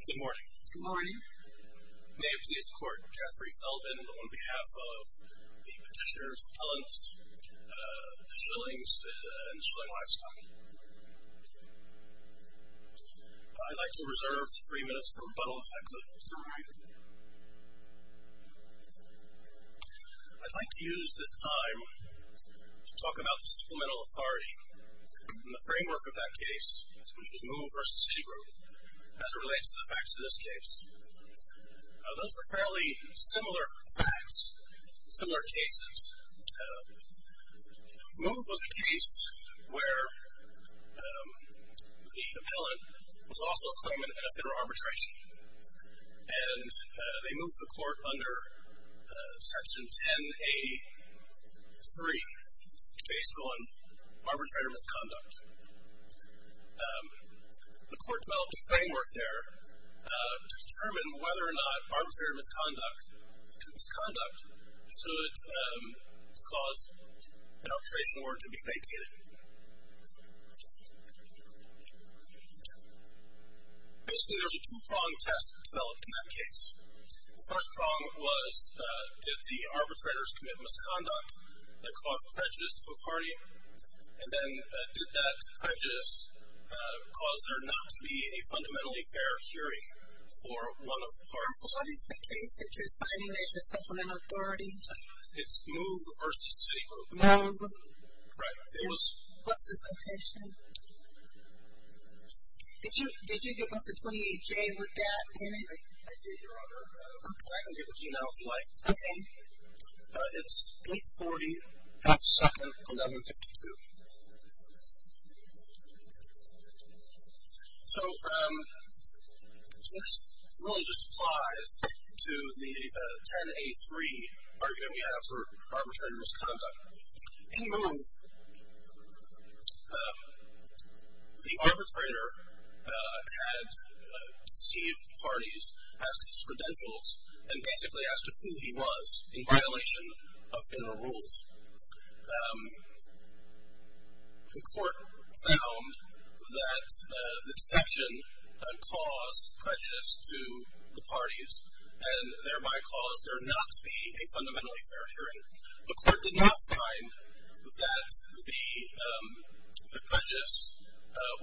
Good morning. Good morning. May it please the court, Jeffrey Feldman on behalf of the petitioners, Ellen, the Shillings, and the Shilling Livestock. I'd like to reserve three minutes for rebuttal if I could. I'd like to use this time to talk about the Supplemental Authority and the facts of this case. Those are fairly similar facts, similar cases. MOVE was a case where the appellant was also a claimant in a federal arbitration, and they moved the court under Section 10A.3, based on arbitrator misconduct. The court developed a framework there to determine whether or not arbitrator misconduct should cause an arbitration order to be vacated. Basically, there's a two-pronged test developed in that case. The first prong was, did the arbitrators commit misconduct that caused prejudice to a party, and then did that prejudice cause there not to be a fundamentally fair hearing for one of the parties? So what is the case that you're citing as your Supplemental Authority? It's MOVE v. Citigroup. MOVE. Right. It was... What's the citation? Did you give us a 28-J with that in it? I did, Your Honor. I can give it to you now, if you like. Okay. It's 840, half-second, 1152. So this rule just applies to the 10A3 argument we have for arbitrator misconduct. In MOVE, the arbitrator had deceived parties, asked for credentials, and basically asked who he was in violation of federal rules. The court found that the deception caused prejudice to the parties, and thereby caused there not to be a fundamentally fair hearing. The court did not find that the prejudice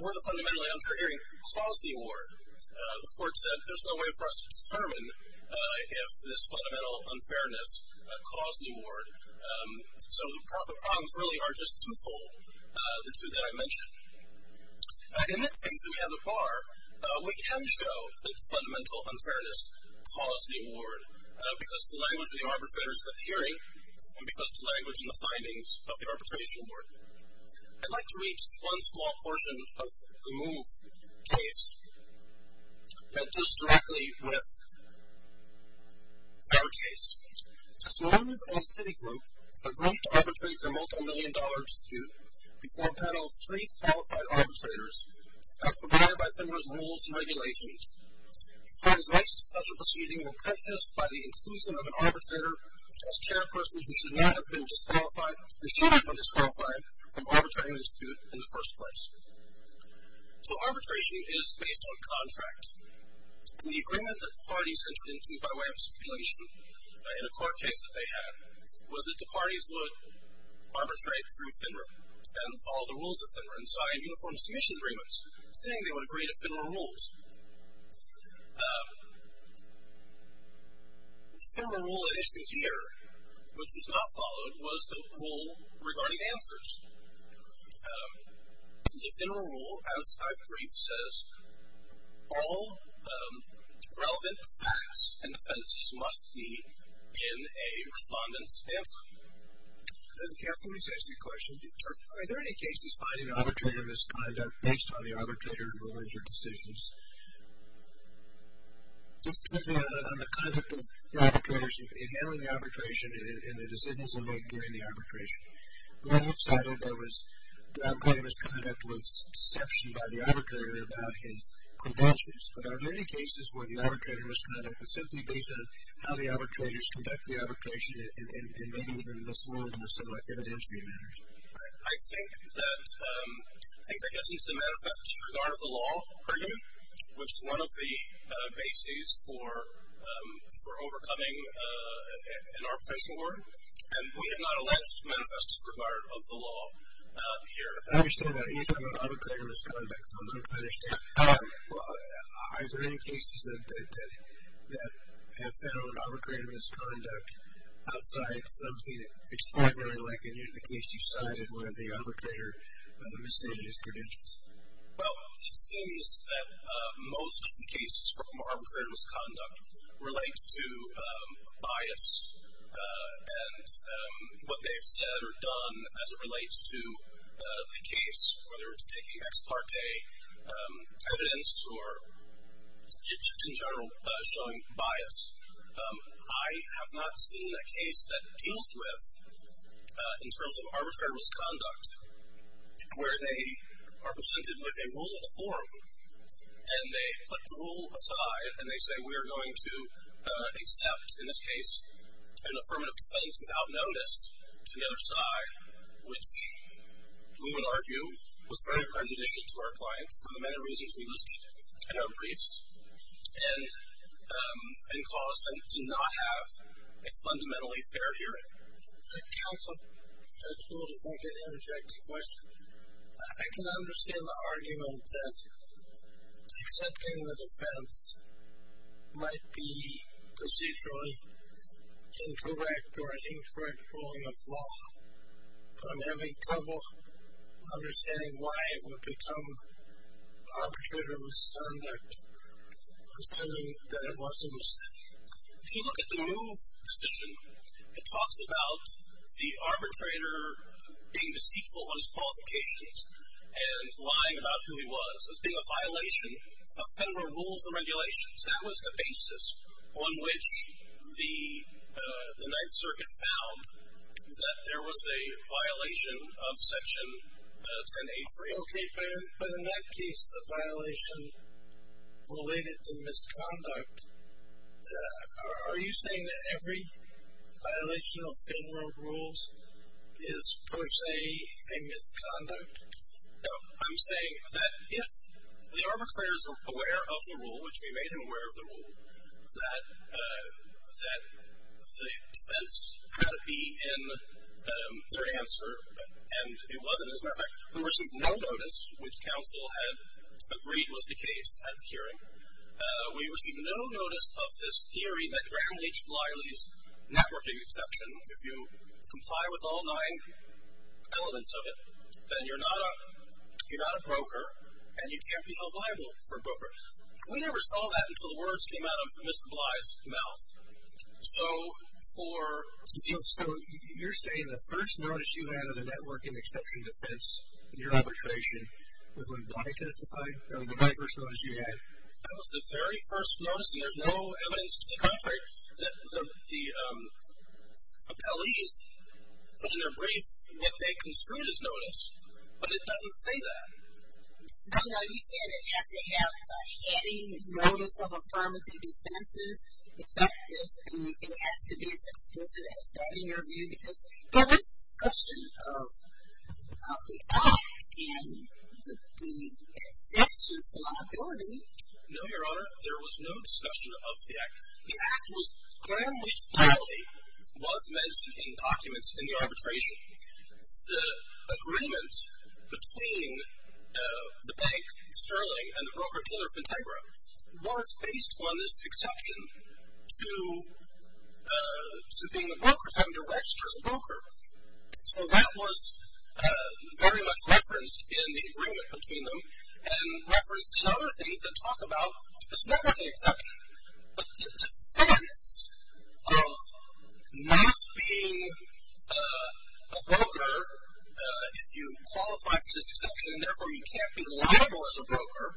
or the fundamentally unfair hearing caused the award. The court said, there's no way for us to determine if this fundamental unfairness caused the award. So the problems really are just two-fold, the two that I mentioned. In this case that we have at bar, we can show that fundamental unfairness caused the award, because of the language of the arbitrators at the hearing, and because of the language and the findings of the arbitration board. I'd like to read just one small portion of the MOVE case that deals directly with our case. It says, MOVE and Citigroup are going to arbitrate their multimillion-dollar dispute before a panel of three qualified arbitrators, as provided by FEMA's rules and regulations. Translates to such a proceeding were purchased by the inclusion of an arbitrator as chairperson who should not have been disqualified from arbitrating the dispute in the first place. So arbitration is based on contract. The agreement that the parties entered into by way of stipulation in a court case that they had was that the parties would arbitrate through FINRA and follow the rules of FINRA and sign uniform submission agreements, saying they would agree to FINRA rules. FINRA rule that isn't here, which is not followed, was the rule regarding answers. The FINRA rule, as I've briefed, says all relevant facts and defendances must be in a respondent's answer. Counsel, let me just ask you a question. Are there any cases finding arbitrator misconduct based on the arbitrator's rulings or decisions? Just simply on the conduct of the arbitrators in handling the arbitration and the decisions they make during the arbitration. On the left side of it, there was the point of misconduct was deception by the arbitrator about his credentials. But are there any cases where the arbitrator misconduct was simply based on how the arbitrators conduct the arbitration and maybe even in this world there's some evidentiary matters? I think that gets into the manifest disregard of the law argument, which is one of the bases for overcoming an arbitration war, and we have not alleged manifest disregard of the law here. I understand that. He's talking about arbitrator misconduct, so I'm going to try to understand. Are there any cases that have found arbitrator misconduct outside something extraordinary, like in the case you cited where the arbitrator misstated his credentials? Well, it seems that most of the cases from arbitrator misconduct relate to bias and what they've said or done as it relates to the case, whether it's taking ex parte evidence or just in general showing bias. I have not seen a case that deals with, in terms of arbitrator misconduct, where they are presented with a rule of the forum and they put the rule aside and they say we are going to accept, in this case, an affirmative defense without notice to the other side, which we would argue was very prejudicial to our clients for the many reasons we listed in our briefs and caused them to not have a fundamentally fair hearing. Counsel, if I could interject a question. I can understand the argument that accepting the defense might be procedurally incorrect or an incorrect ruling of law, but I'm having trouble understanding why it would become arbitrator misconduct assuming that it wasn't misstated. If you look at the Move decision, it talks about the arbitrator being deceitful on his qualifications and lying about who he was as being a violation of federal rules and regulations. That was the basis on which the Ninth Circuit found that there was a violation of Section 10A3. Okay, but in that case, the violation related to misconduct, are you saying that every violation of federal rules is per se a misconduct? No, I'm saying that if the arbitrator is aware of the rule, which we made him aware of the rule, that the defense had to be in their answer and it wasn't. We received no notice which counsel had agreed was the case at the hearing. We received no notice of this theory that Graham H. Blyle's networking exception, if you comply with all nine elements of it, then you're not a broker and you can't be held liable for brokerage. We never saw that until the words came out of Mr. Bly's mouth. So you're saying the first notice you had of the networking exception defense in your arbitration was when Bly testified? That was the very first notice you had? That was the very first notice and there's no evidence to the contrary that the appellees put in their brief that they construed as notice, but it doesn't say that. No, no, you said it has to have a heading notice of affirmative defenses. Is that, it has to be as explicit as that in your view because there was discussion of the act and the exception's liability. No, Your Honor, there was no discussion of the act. The act was, Graham H. Blyle was mentioned in documents in the arbitration. The agreement between the bank, Sterling, and the broker, Taylor Fintagra, was based on this exception to being a broker, to having to register as a broker. So that was very much referenced in the agreement between them and referenced in other things that talk about this networking exception. But the defense of not being a broker if you qualify for this exception and therefore you can't be liable as a broker,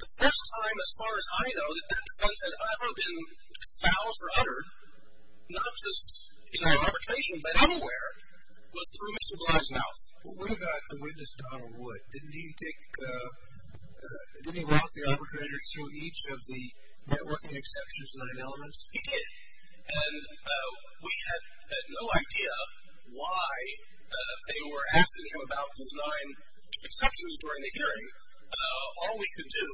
the first time as far as I know that that defense had ever been espoused or uttered, not just in our arbitration, but anywhere, was through Mr. Blyle's mouth. Well, what about the witness, Donald Wood? Didn't he take, didn't he walk the arbitrators through each of the networking exceptions, nine elements? He did. And we had no idea why they were asking him about these nine exceptions during the hearing. All we could do,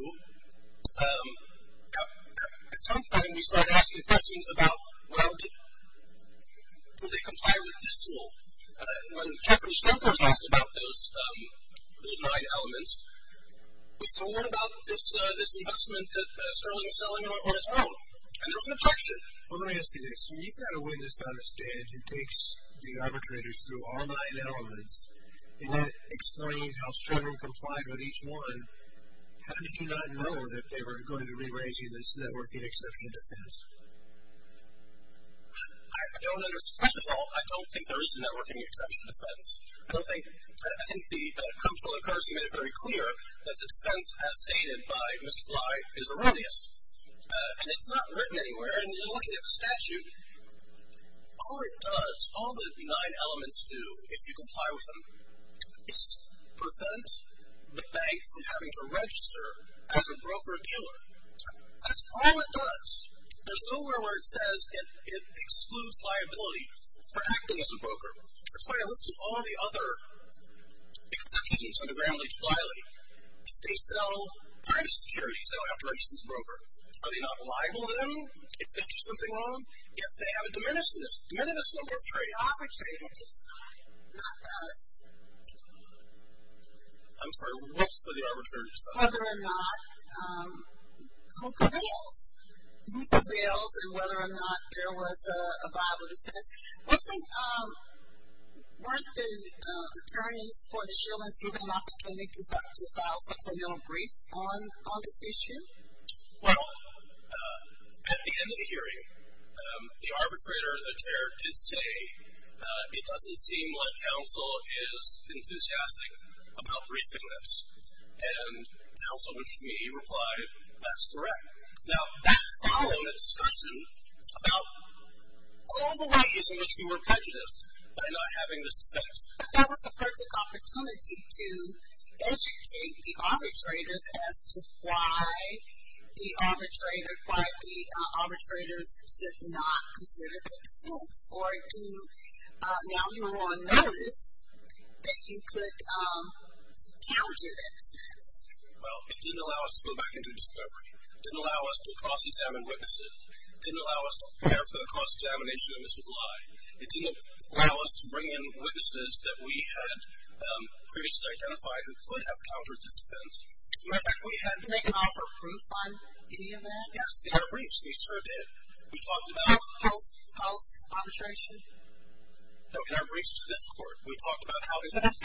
at some point we started asking questions about, well, did they comply with this rule? When Jeffery Schenkel was asked about those nine elements, we said, well, what about this investment that Sterling is selling on its own? And there was an objection. Well, let me ask you this. When you've got a witness on the stand who takes the arbitrators through all nine elements and then explains how Sterling complied with each one, how did you not know that they were going to re-raise you this networking exception defense? I don't understand. First of all, I don't think there is a networking exception defense. I don't think, I think the Comptroller Courtesy made it very clear that the defense as stated by Mr. Blyle is erroneous, and it's not written anywhere, and you're looking at the statute. All it does, all the nine elements do, if you comply with them, is prevent the bank from having to register as a broker-appealer. That's all it does. There's nowhere where it says it excludes liability for acting as a broker. That's why I listed all the other exceptions under Gramm-Leach-Blyle. If they sell private securities, they don't have to register as a broker. Are they not liable then if they do something wrong? If they have a diminished number of trade-offs. It's the arbitrator to decide, not us. I'm sorry, what's for the arbitrator to decide? Whether or not who prevails. Who prevails and whether or not there was a violent offense. Weren't the attorneys for the Shermans given an opportunity to file substantial briefs on this issue? Well, at the end of the hearing, the arbitrator, the chair, did say it doesn't seem like counsel is enthusiastic about briefing this. And counsel, which is me, replied, that's correct. Now, that followed a discussion about all the ways in which we were prejudiced by not having this defense. But that was the perfect opportunity to educate the arbitrators as to why the arbitrators should not consider the defense. Now, you were on notice that you could counter that defense. Well, it didn't allow us to go back and do discovery. It didn't allow us to cross-examine witnesses. It didn't allow us to prepare for the cross-examination of Mr. Bly. It didn't allow us to bring in witnesses that we had previously identified who could have countered this defense. As a matter of fact, we hadn't taken off a brief on any of that. Yes, we had briefs. We sure did. Post-arbitration? No, in our briefs to this court. We talked about how this was.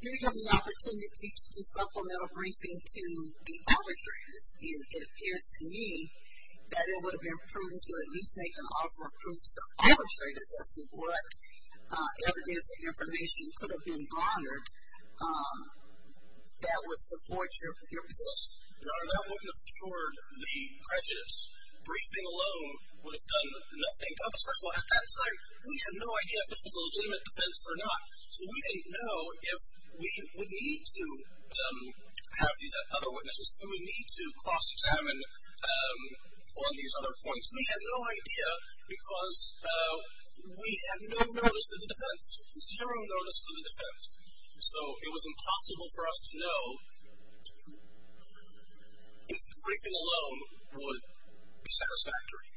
You had the opportunity to supplement a briefing to the arbitrators. And it appears to me that it would have been prudent to at least make an offer of proof to the arbitrators as to what evidence or information could have been garnered that would support your position. No, that wouldn't have cured the prejudice. Briefing alone would have done nothing to us. First of all, at that time, we had no idea if this was a legitimate defense or not. So we didn't know if we would need to have these other witnesses, if we would need to cross-examine on these other points. We had no idea because we had no notice of the defense, zero notice of the defense. So it was impossible for us to know if the briefing alone would be satisfactory.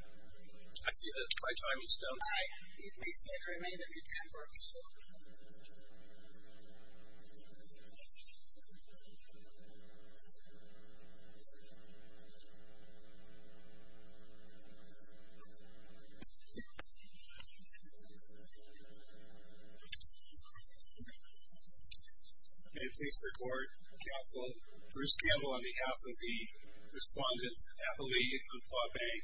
I see that my time is done. All right. We see the remainder of your time. Thank you. May it please the Court, Counsel, Bruce Campbell on behalf of the respondents, Appellee, Umpqua Bank.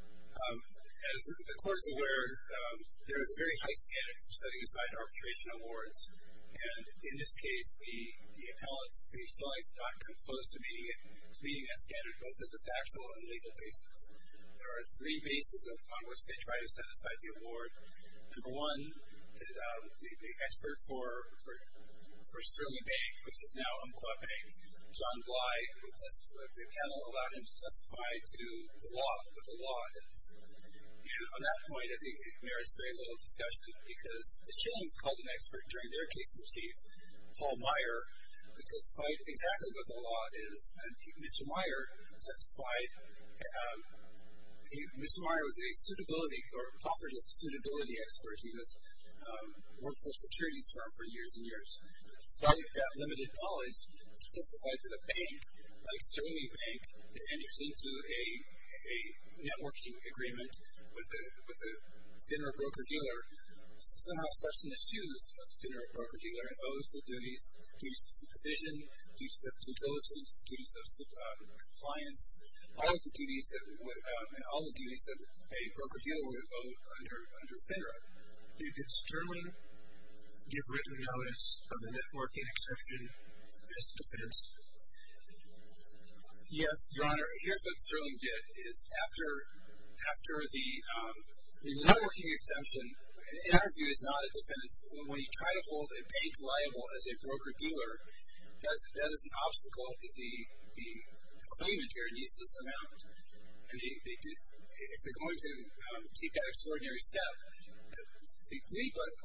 As the Court is aware, there is a very high standard for setting aside arbitration awards. And in this case, the appellants, they still have not come close to meeting that standard, both as a factual and legal basis. There are three bases upon which they try to set aside the award. Number one, the expert for Sterling Bank, which is now Umpqua Bank, John Bly, the panel allowed him to testify to the law, what the law is. And on that point, I think it merits very little discussion because the Shillings called an expert during their case in chief, Paul Meyer, who testified exactly what the law is. And Mr. Meyer testified. Mr. Meyer was a suitability or offered as a suitability expert. He was a workforce securities firm for years and years. Despite that limited knowledge, he testified that a bank, like Sterling Bank, enters into a networking agreement with a FINRA broker-dealer, somehow steps in the shoes of the FINRA broker-dealer and owes the duties, duties of supervision, duties of due diligence, duties of compliance, all of the duties that a broker-dealer would owe under FINRA. Did Sterling give written notice of the networking exemption as a defense? Yes, Your Honor. Here's what Sterling did is after the networking exemption, an interview is not a defense. When you try to hold a bank liable as a broker-dealer, that is an obstacle that the claimant here needs to surmount. If they're going to take that extraordinary step, the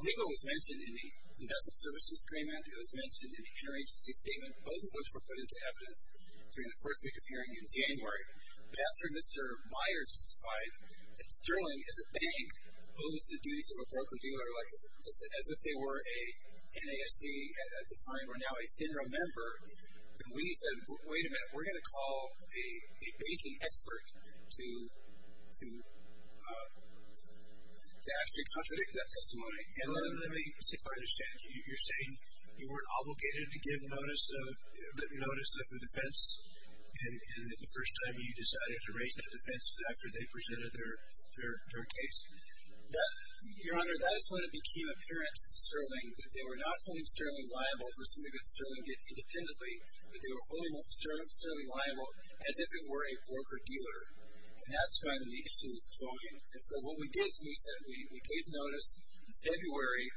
legal was mentioned in the Investment Services Agreement. It was mentioned in the interagency statement. Both of which were put into evidence during the first week of hearing in January. But after Mr. Meyer justified that Sterling, as a bank, owes the duties of a broker-dealer, just as if they were a NASD at the time or now a FINRA member, then we said, wait a minute. We're going to call a banking expert to actually contradict that testimony. Let me see if I understand. You're saying you weren't obligated to give notice of the defense, and the first time you decided to raise that defense was after they presented their case? Your Honor, that is when it became apparent to Sterling that they were not holding Sterling liable for something that Sterling did independently, but they were holding Sterling liable as if it were a broker-dealer. And that's when the issue was plogging. And so what we did is we said we gave notice in February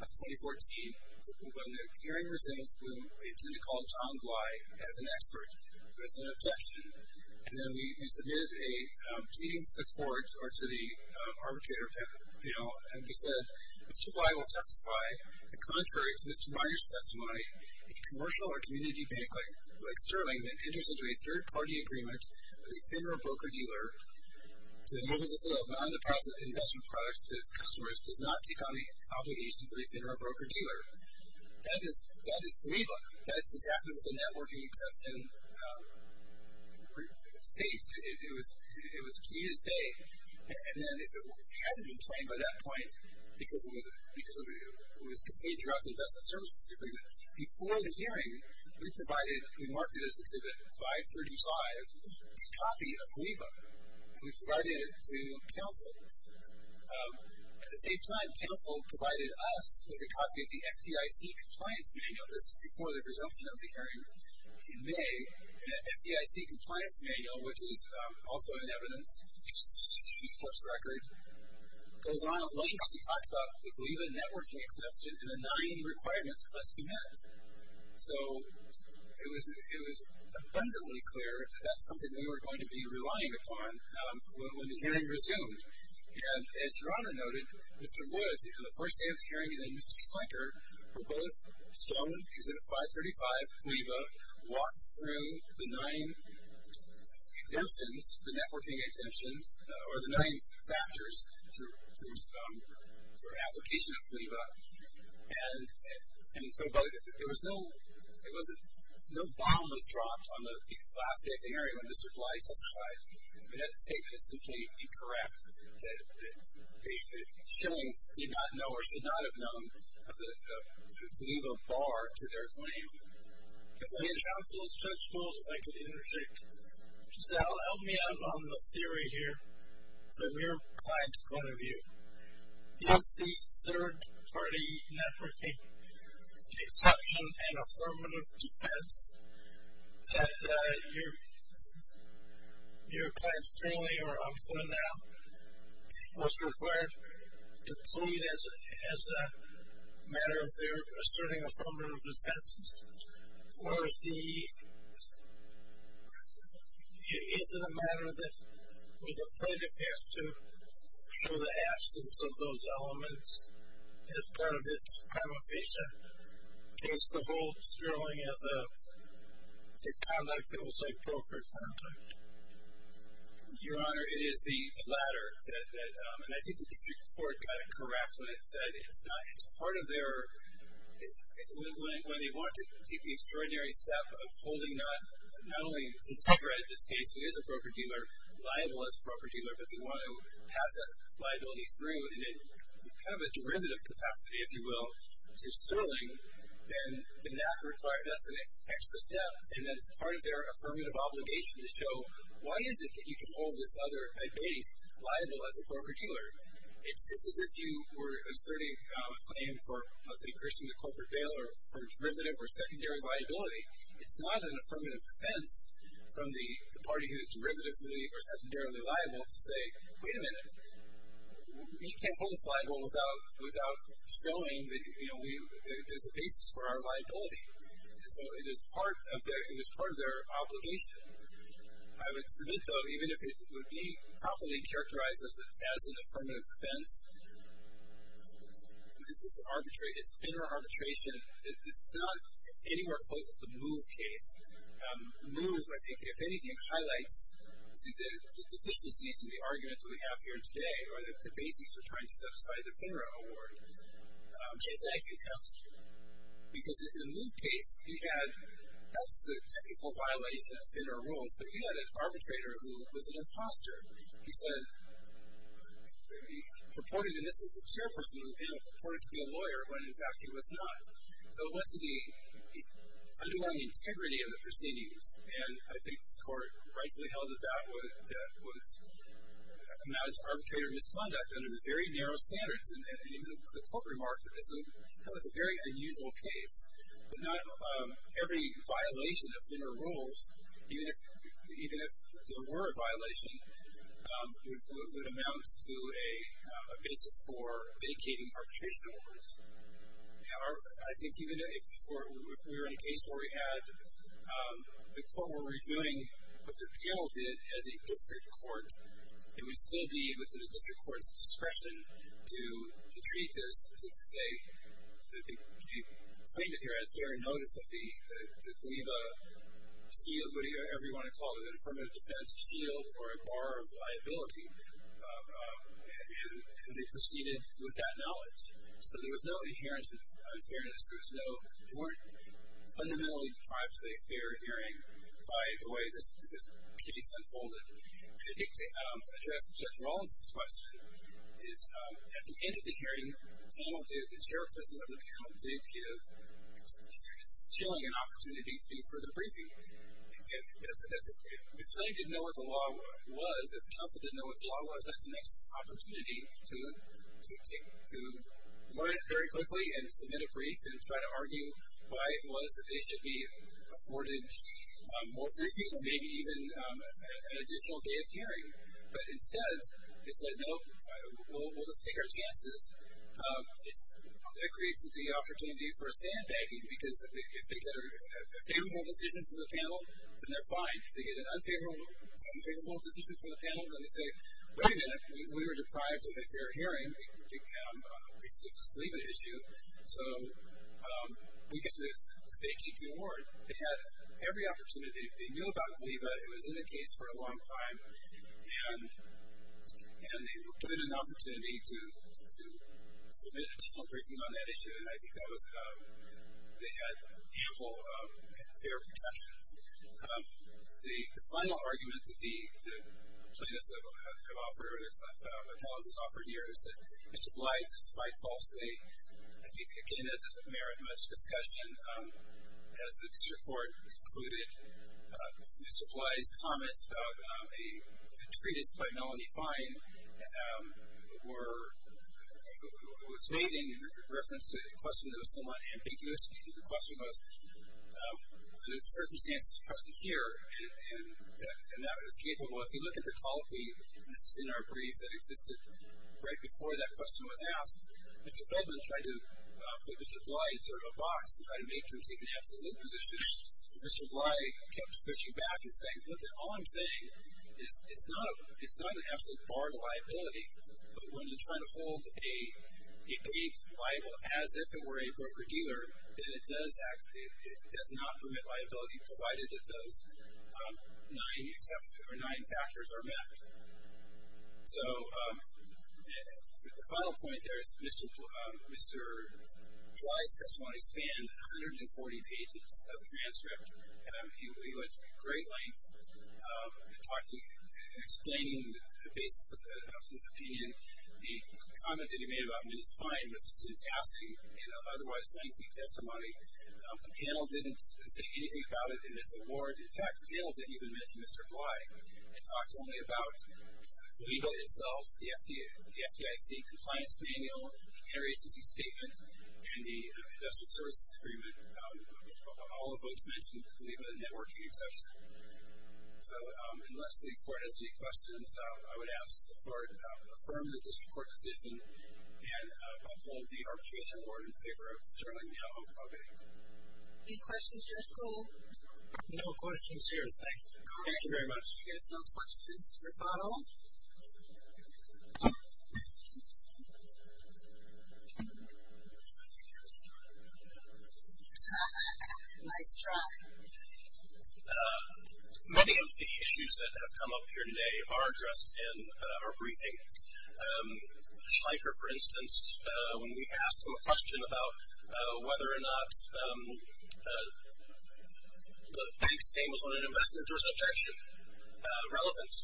of 2014. When the hearing resumed, we intended to call John Glei as an expert, but it was an objection. And then we submitted a proceeding to the court or to the arbitrator, and we said Mr. Glei will testify that contrary to Mr. Myers' testimony, a commercial or community bank like Sterling that enters into a third-party agreement with a FINRA broker-dealer to enable the sale of non-deposit investment products to its customers does not take on the obligations of a FINRA broker-dealer. That is the lead line. That's exactly what the networking exception states. It was a key to stay. And then if it hadn't been claimed by that point, because it was contained throughout the Investment Services Agreement, before the hearing we provided, we marked it as Exhibit 535, a copy of GLEIBA, and we provided it to counsel. At the same time, counsel provided us with a copy of the FDIC Compliance Manual. This is before the resumption of the hearing in May. And that FDIC Compliance Manual, which is also in evidence, the force record, goes on at length. We talk about the GLEIBA networking exception and the nine requirements must be met. So it was abundantly clear that that's something we were going to be relying upon when the hearing resumed. And as Your Honor noted, Mr. Wood, on the first day of the hearing, me and Mr. Slinker were both shown Exhibit 535, GLEIBA, walked through the nine exemptions, the networking exemptions, or the nine factors for application of GLEIBA. And so there was no bomb was dropped on the last day of the hearing when Mr. GLEI testified. That statement is simply incorrect. The shillings did not know or should not have known of the GLEIBA bar to their claim. If I had counsel's judgment, if I could interject. Sal, help me out on the theory here from your client's point of view. Is the third-party networking exception and affirmative defense that your client's claim or I'm going to now was required to plead as a matter of their asserting affirmative defenses? Or is it a matter that the plaintiff has to show the absence of those elements as part of its ameficia case to hold sterling as a conduct that was like brokered conduct? Your Honor, it is the latter. And I think the district court got it correct when it said it's part of their when they want to take the extraordinary step of holding not only Integra in this case, who is a broker-dealer, liable as a broker-dealer, but they want to pass that liability through in kind of a derivative capacity, if you will, to sterling, then that's an extra step. And that's part of their affirmative obligation to show why is it that you can hold this other debate liable as a broker-dealer? It's just as if you were asserting a claim for, let's say, increasing the corporate bail or for derivative or secondary liability. It's not an affirmative defense from the party who is derivatively or secondarily liable to say, wait a minute, you can't hold us liable without showing that there's a basis for our liability. And so it is part of their obligation. I would submit, though, even if it would be properly characterized as an affirmative defense, this is arbitration, it's FINRA arbitration, it's not anywhere close to the MOVE case. MOVE, I think, if anything, highlights the deficiencies in the argument that we have here today or the basis for trying to set aside the FINRA award. Jay, thank you. Because in the MOVE case, he had, that's the technical violation of FINRA rules, but he had an arbitrator who was an imposter. He said, he purported, and this was the chairperson of the panel, purported to be a lawyer when, in fact, he was not. So it went to the underlying integrity of the proceedings. And I think this court rightfully held that that would amount to arbitrator misconduct under the very narrow standards. And even the court remarked that that was a very unusual case. But not every violation of FINRA rules, even if there were a violation, would amount to a basis for vacating arbitration awards. I think even if we were in a case where we had, the court were reviewing what the panel did as a district court, it would still be within a district court's discretion to treat this, to say, can you claim that you had fair notice of the, leave a seal, whatever you want to call it, an affirmative defense seal or a bar of liability. And they proceeded with that knowledge. So there was no inherent unfairness. There was no, they weren't fundamentally deprived of a fair hearing by the way this case unfolded. I think to address Judge Rollins' question, is at the end of the hearing, the panel did, the chairperson of the panel did give Sully an opportunity to do further briefing. If Sully didn't know what the law was, if counsel didn't know what the law was, that's the next opportunity to learn it very quickly and submit a brief and try to argue why it was that they should be afforded more briefing or maybe even an additional day of hearing. But instead, they said, nope, we'll just take our chances. It creates the opportunity for a sandbagging because if they get a favorable decision from the panel, then they're fine. If they get an unfavorable decision from the panel, then they say, wait a minute, we were deprived of a fair hearing because of this leave issue. So we get to vacate the award. They had every opportunity. They knew about the leave. It was in the case for a long time. And they were given an opportunity to submit additional briefing on that issue. And I think that was, they had ample and fair protections. The final argument that the plaintiffs have offered here is that Mr. Blyde testified falsely. I think, again, that doesn't merit much discussion. As the district court concluded, Mr. Blyde's comments about a treatise by Melanie Fine was made in reference to a question that was somewhat ambiguous because the question was whether the circumstances present here and that it was capable. If you look at the colloquy, this is in our brief that existed right before that question was asked, Mr. Feldman tried to put Mr. Blyde in sort of a box and tried to make him take an absolute position. Mr. Blyde kept pushing back and saying, look, all I'm saying is it's not an absolute bar to liability, but when you're trying to hold a plea liable as if it were a broker-dealer, it does not permit liability provided that those nine factors are met. So the final point there is Mr. Blyde's testimony spanned 140 pages of transcript. He went to great lengths in explaining the basis of his opinion. The comment that he made about Mrs. Fine was just the testimony panel didn't say anything about it in its award. In fact, they didn't even mention Mr. Blyde. They talked only about the legal itself, the FDIC compliance manual, the interagency statement, and the industrial services agreement. All the votes mentioned leave a networking exception. So unless the court has any questions, I would ask the court to affirm the district court decision and uphold the arbitration award in favor of Sterling Mihoho Probate. Any questions, Judge Gould? No questions here. Thank you. Thank you very much. If there's no questions, rebuttal. Nice try. Many of the issues that have come up here today are addressed in our briefing. Schlenker, for instance, when we asked him a question about whether or not the bank's name was on an investment, there was an objection, relevance.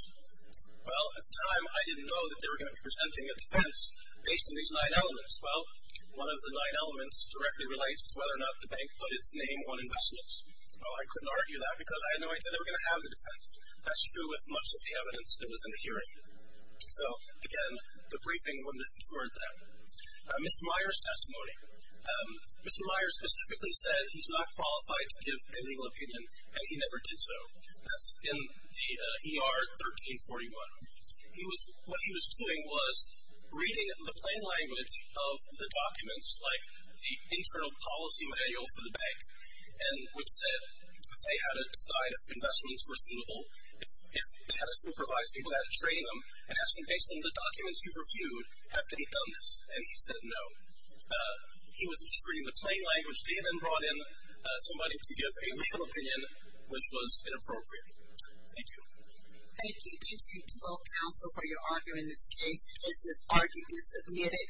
Well, at the time, I didn't know that they were going to be presenting a defense based on these nine elements. Well, one of the nine elements directly relates to whether or not the bank put its name on investments. Well, I couldn't argue that because I had no idea they were going to have the defense. That's true with much of the evidence that was in the hearing. So, again, the briefing wouldn't have inferred that. Mr. Meyer's testimony. Mr. Meyer specifically said he's not qualified to give a legal opinion, and he never did so. That's in the ER 1341. What he was doing was reading the plain language of the documents, like the internal policy manual for the bank, and would say if they had to decide if investments were suitable, if they had to supervise people, if they had to train them, and ask them based on the documents you've reviewed, have they done this? And he said no. He was just reading the plain language. They then brought in somebody to give a legal opinion, which was inappropriate. Thank you. Thank you. Thank you to both counsel for your argument in this case. This argument is submitted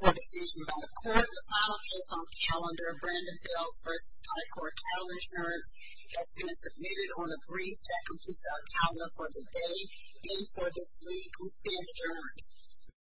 for decision by the court. The final case on calendar, Brandon Fells v. Tycor, calendar insurance has been submitted on a brief that completes our calendar for the day and for this week. We stand adjourned.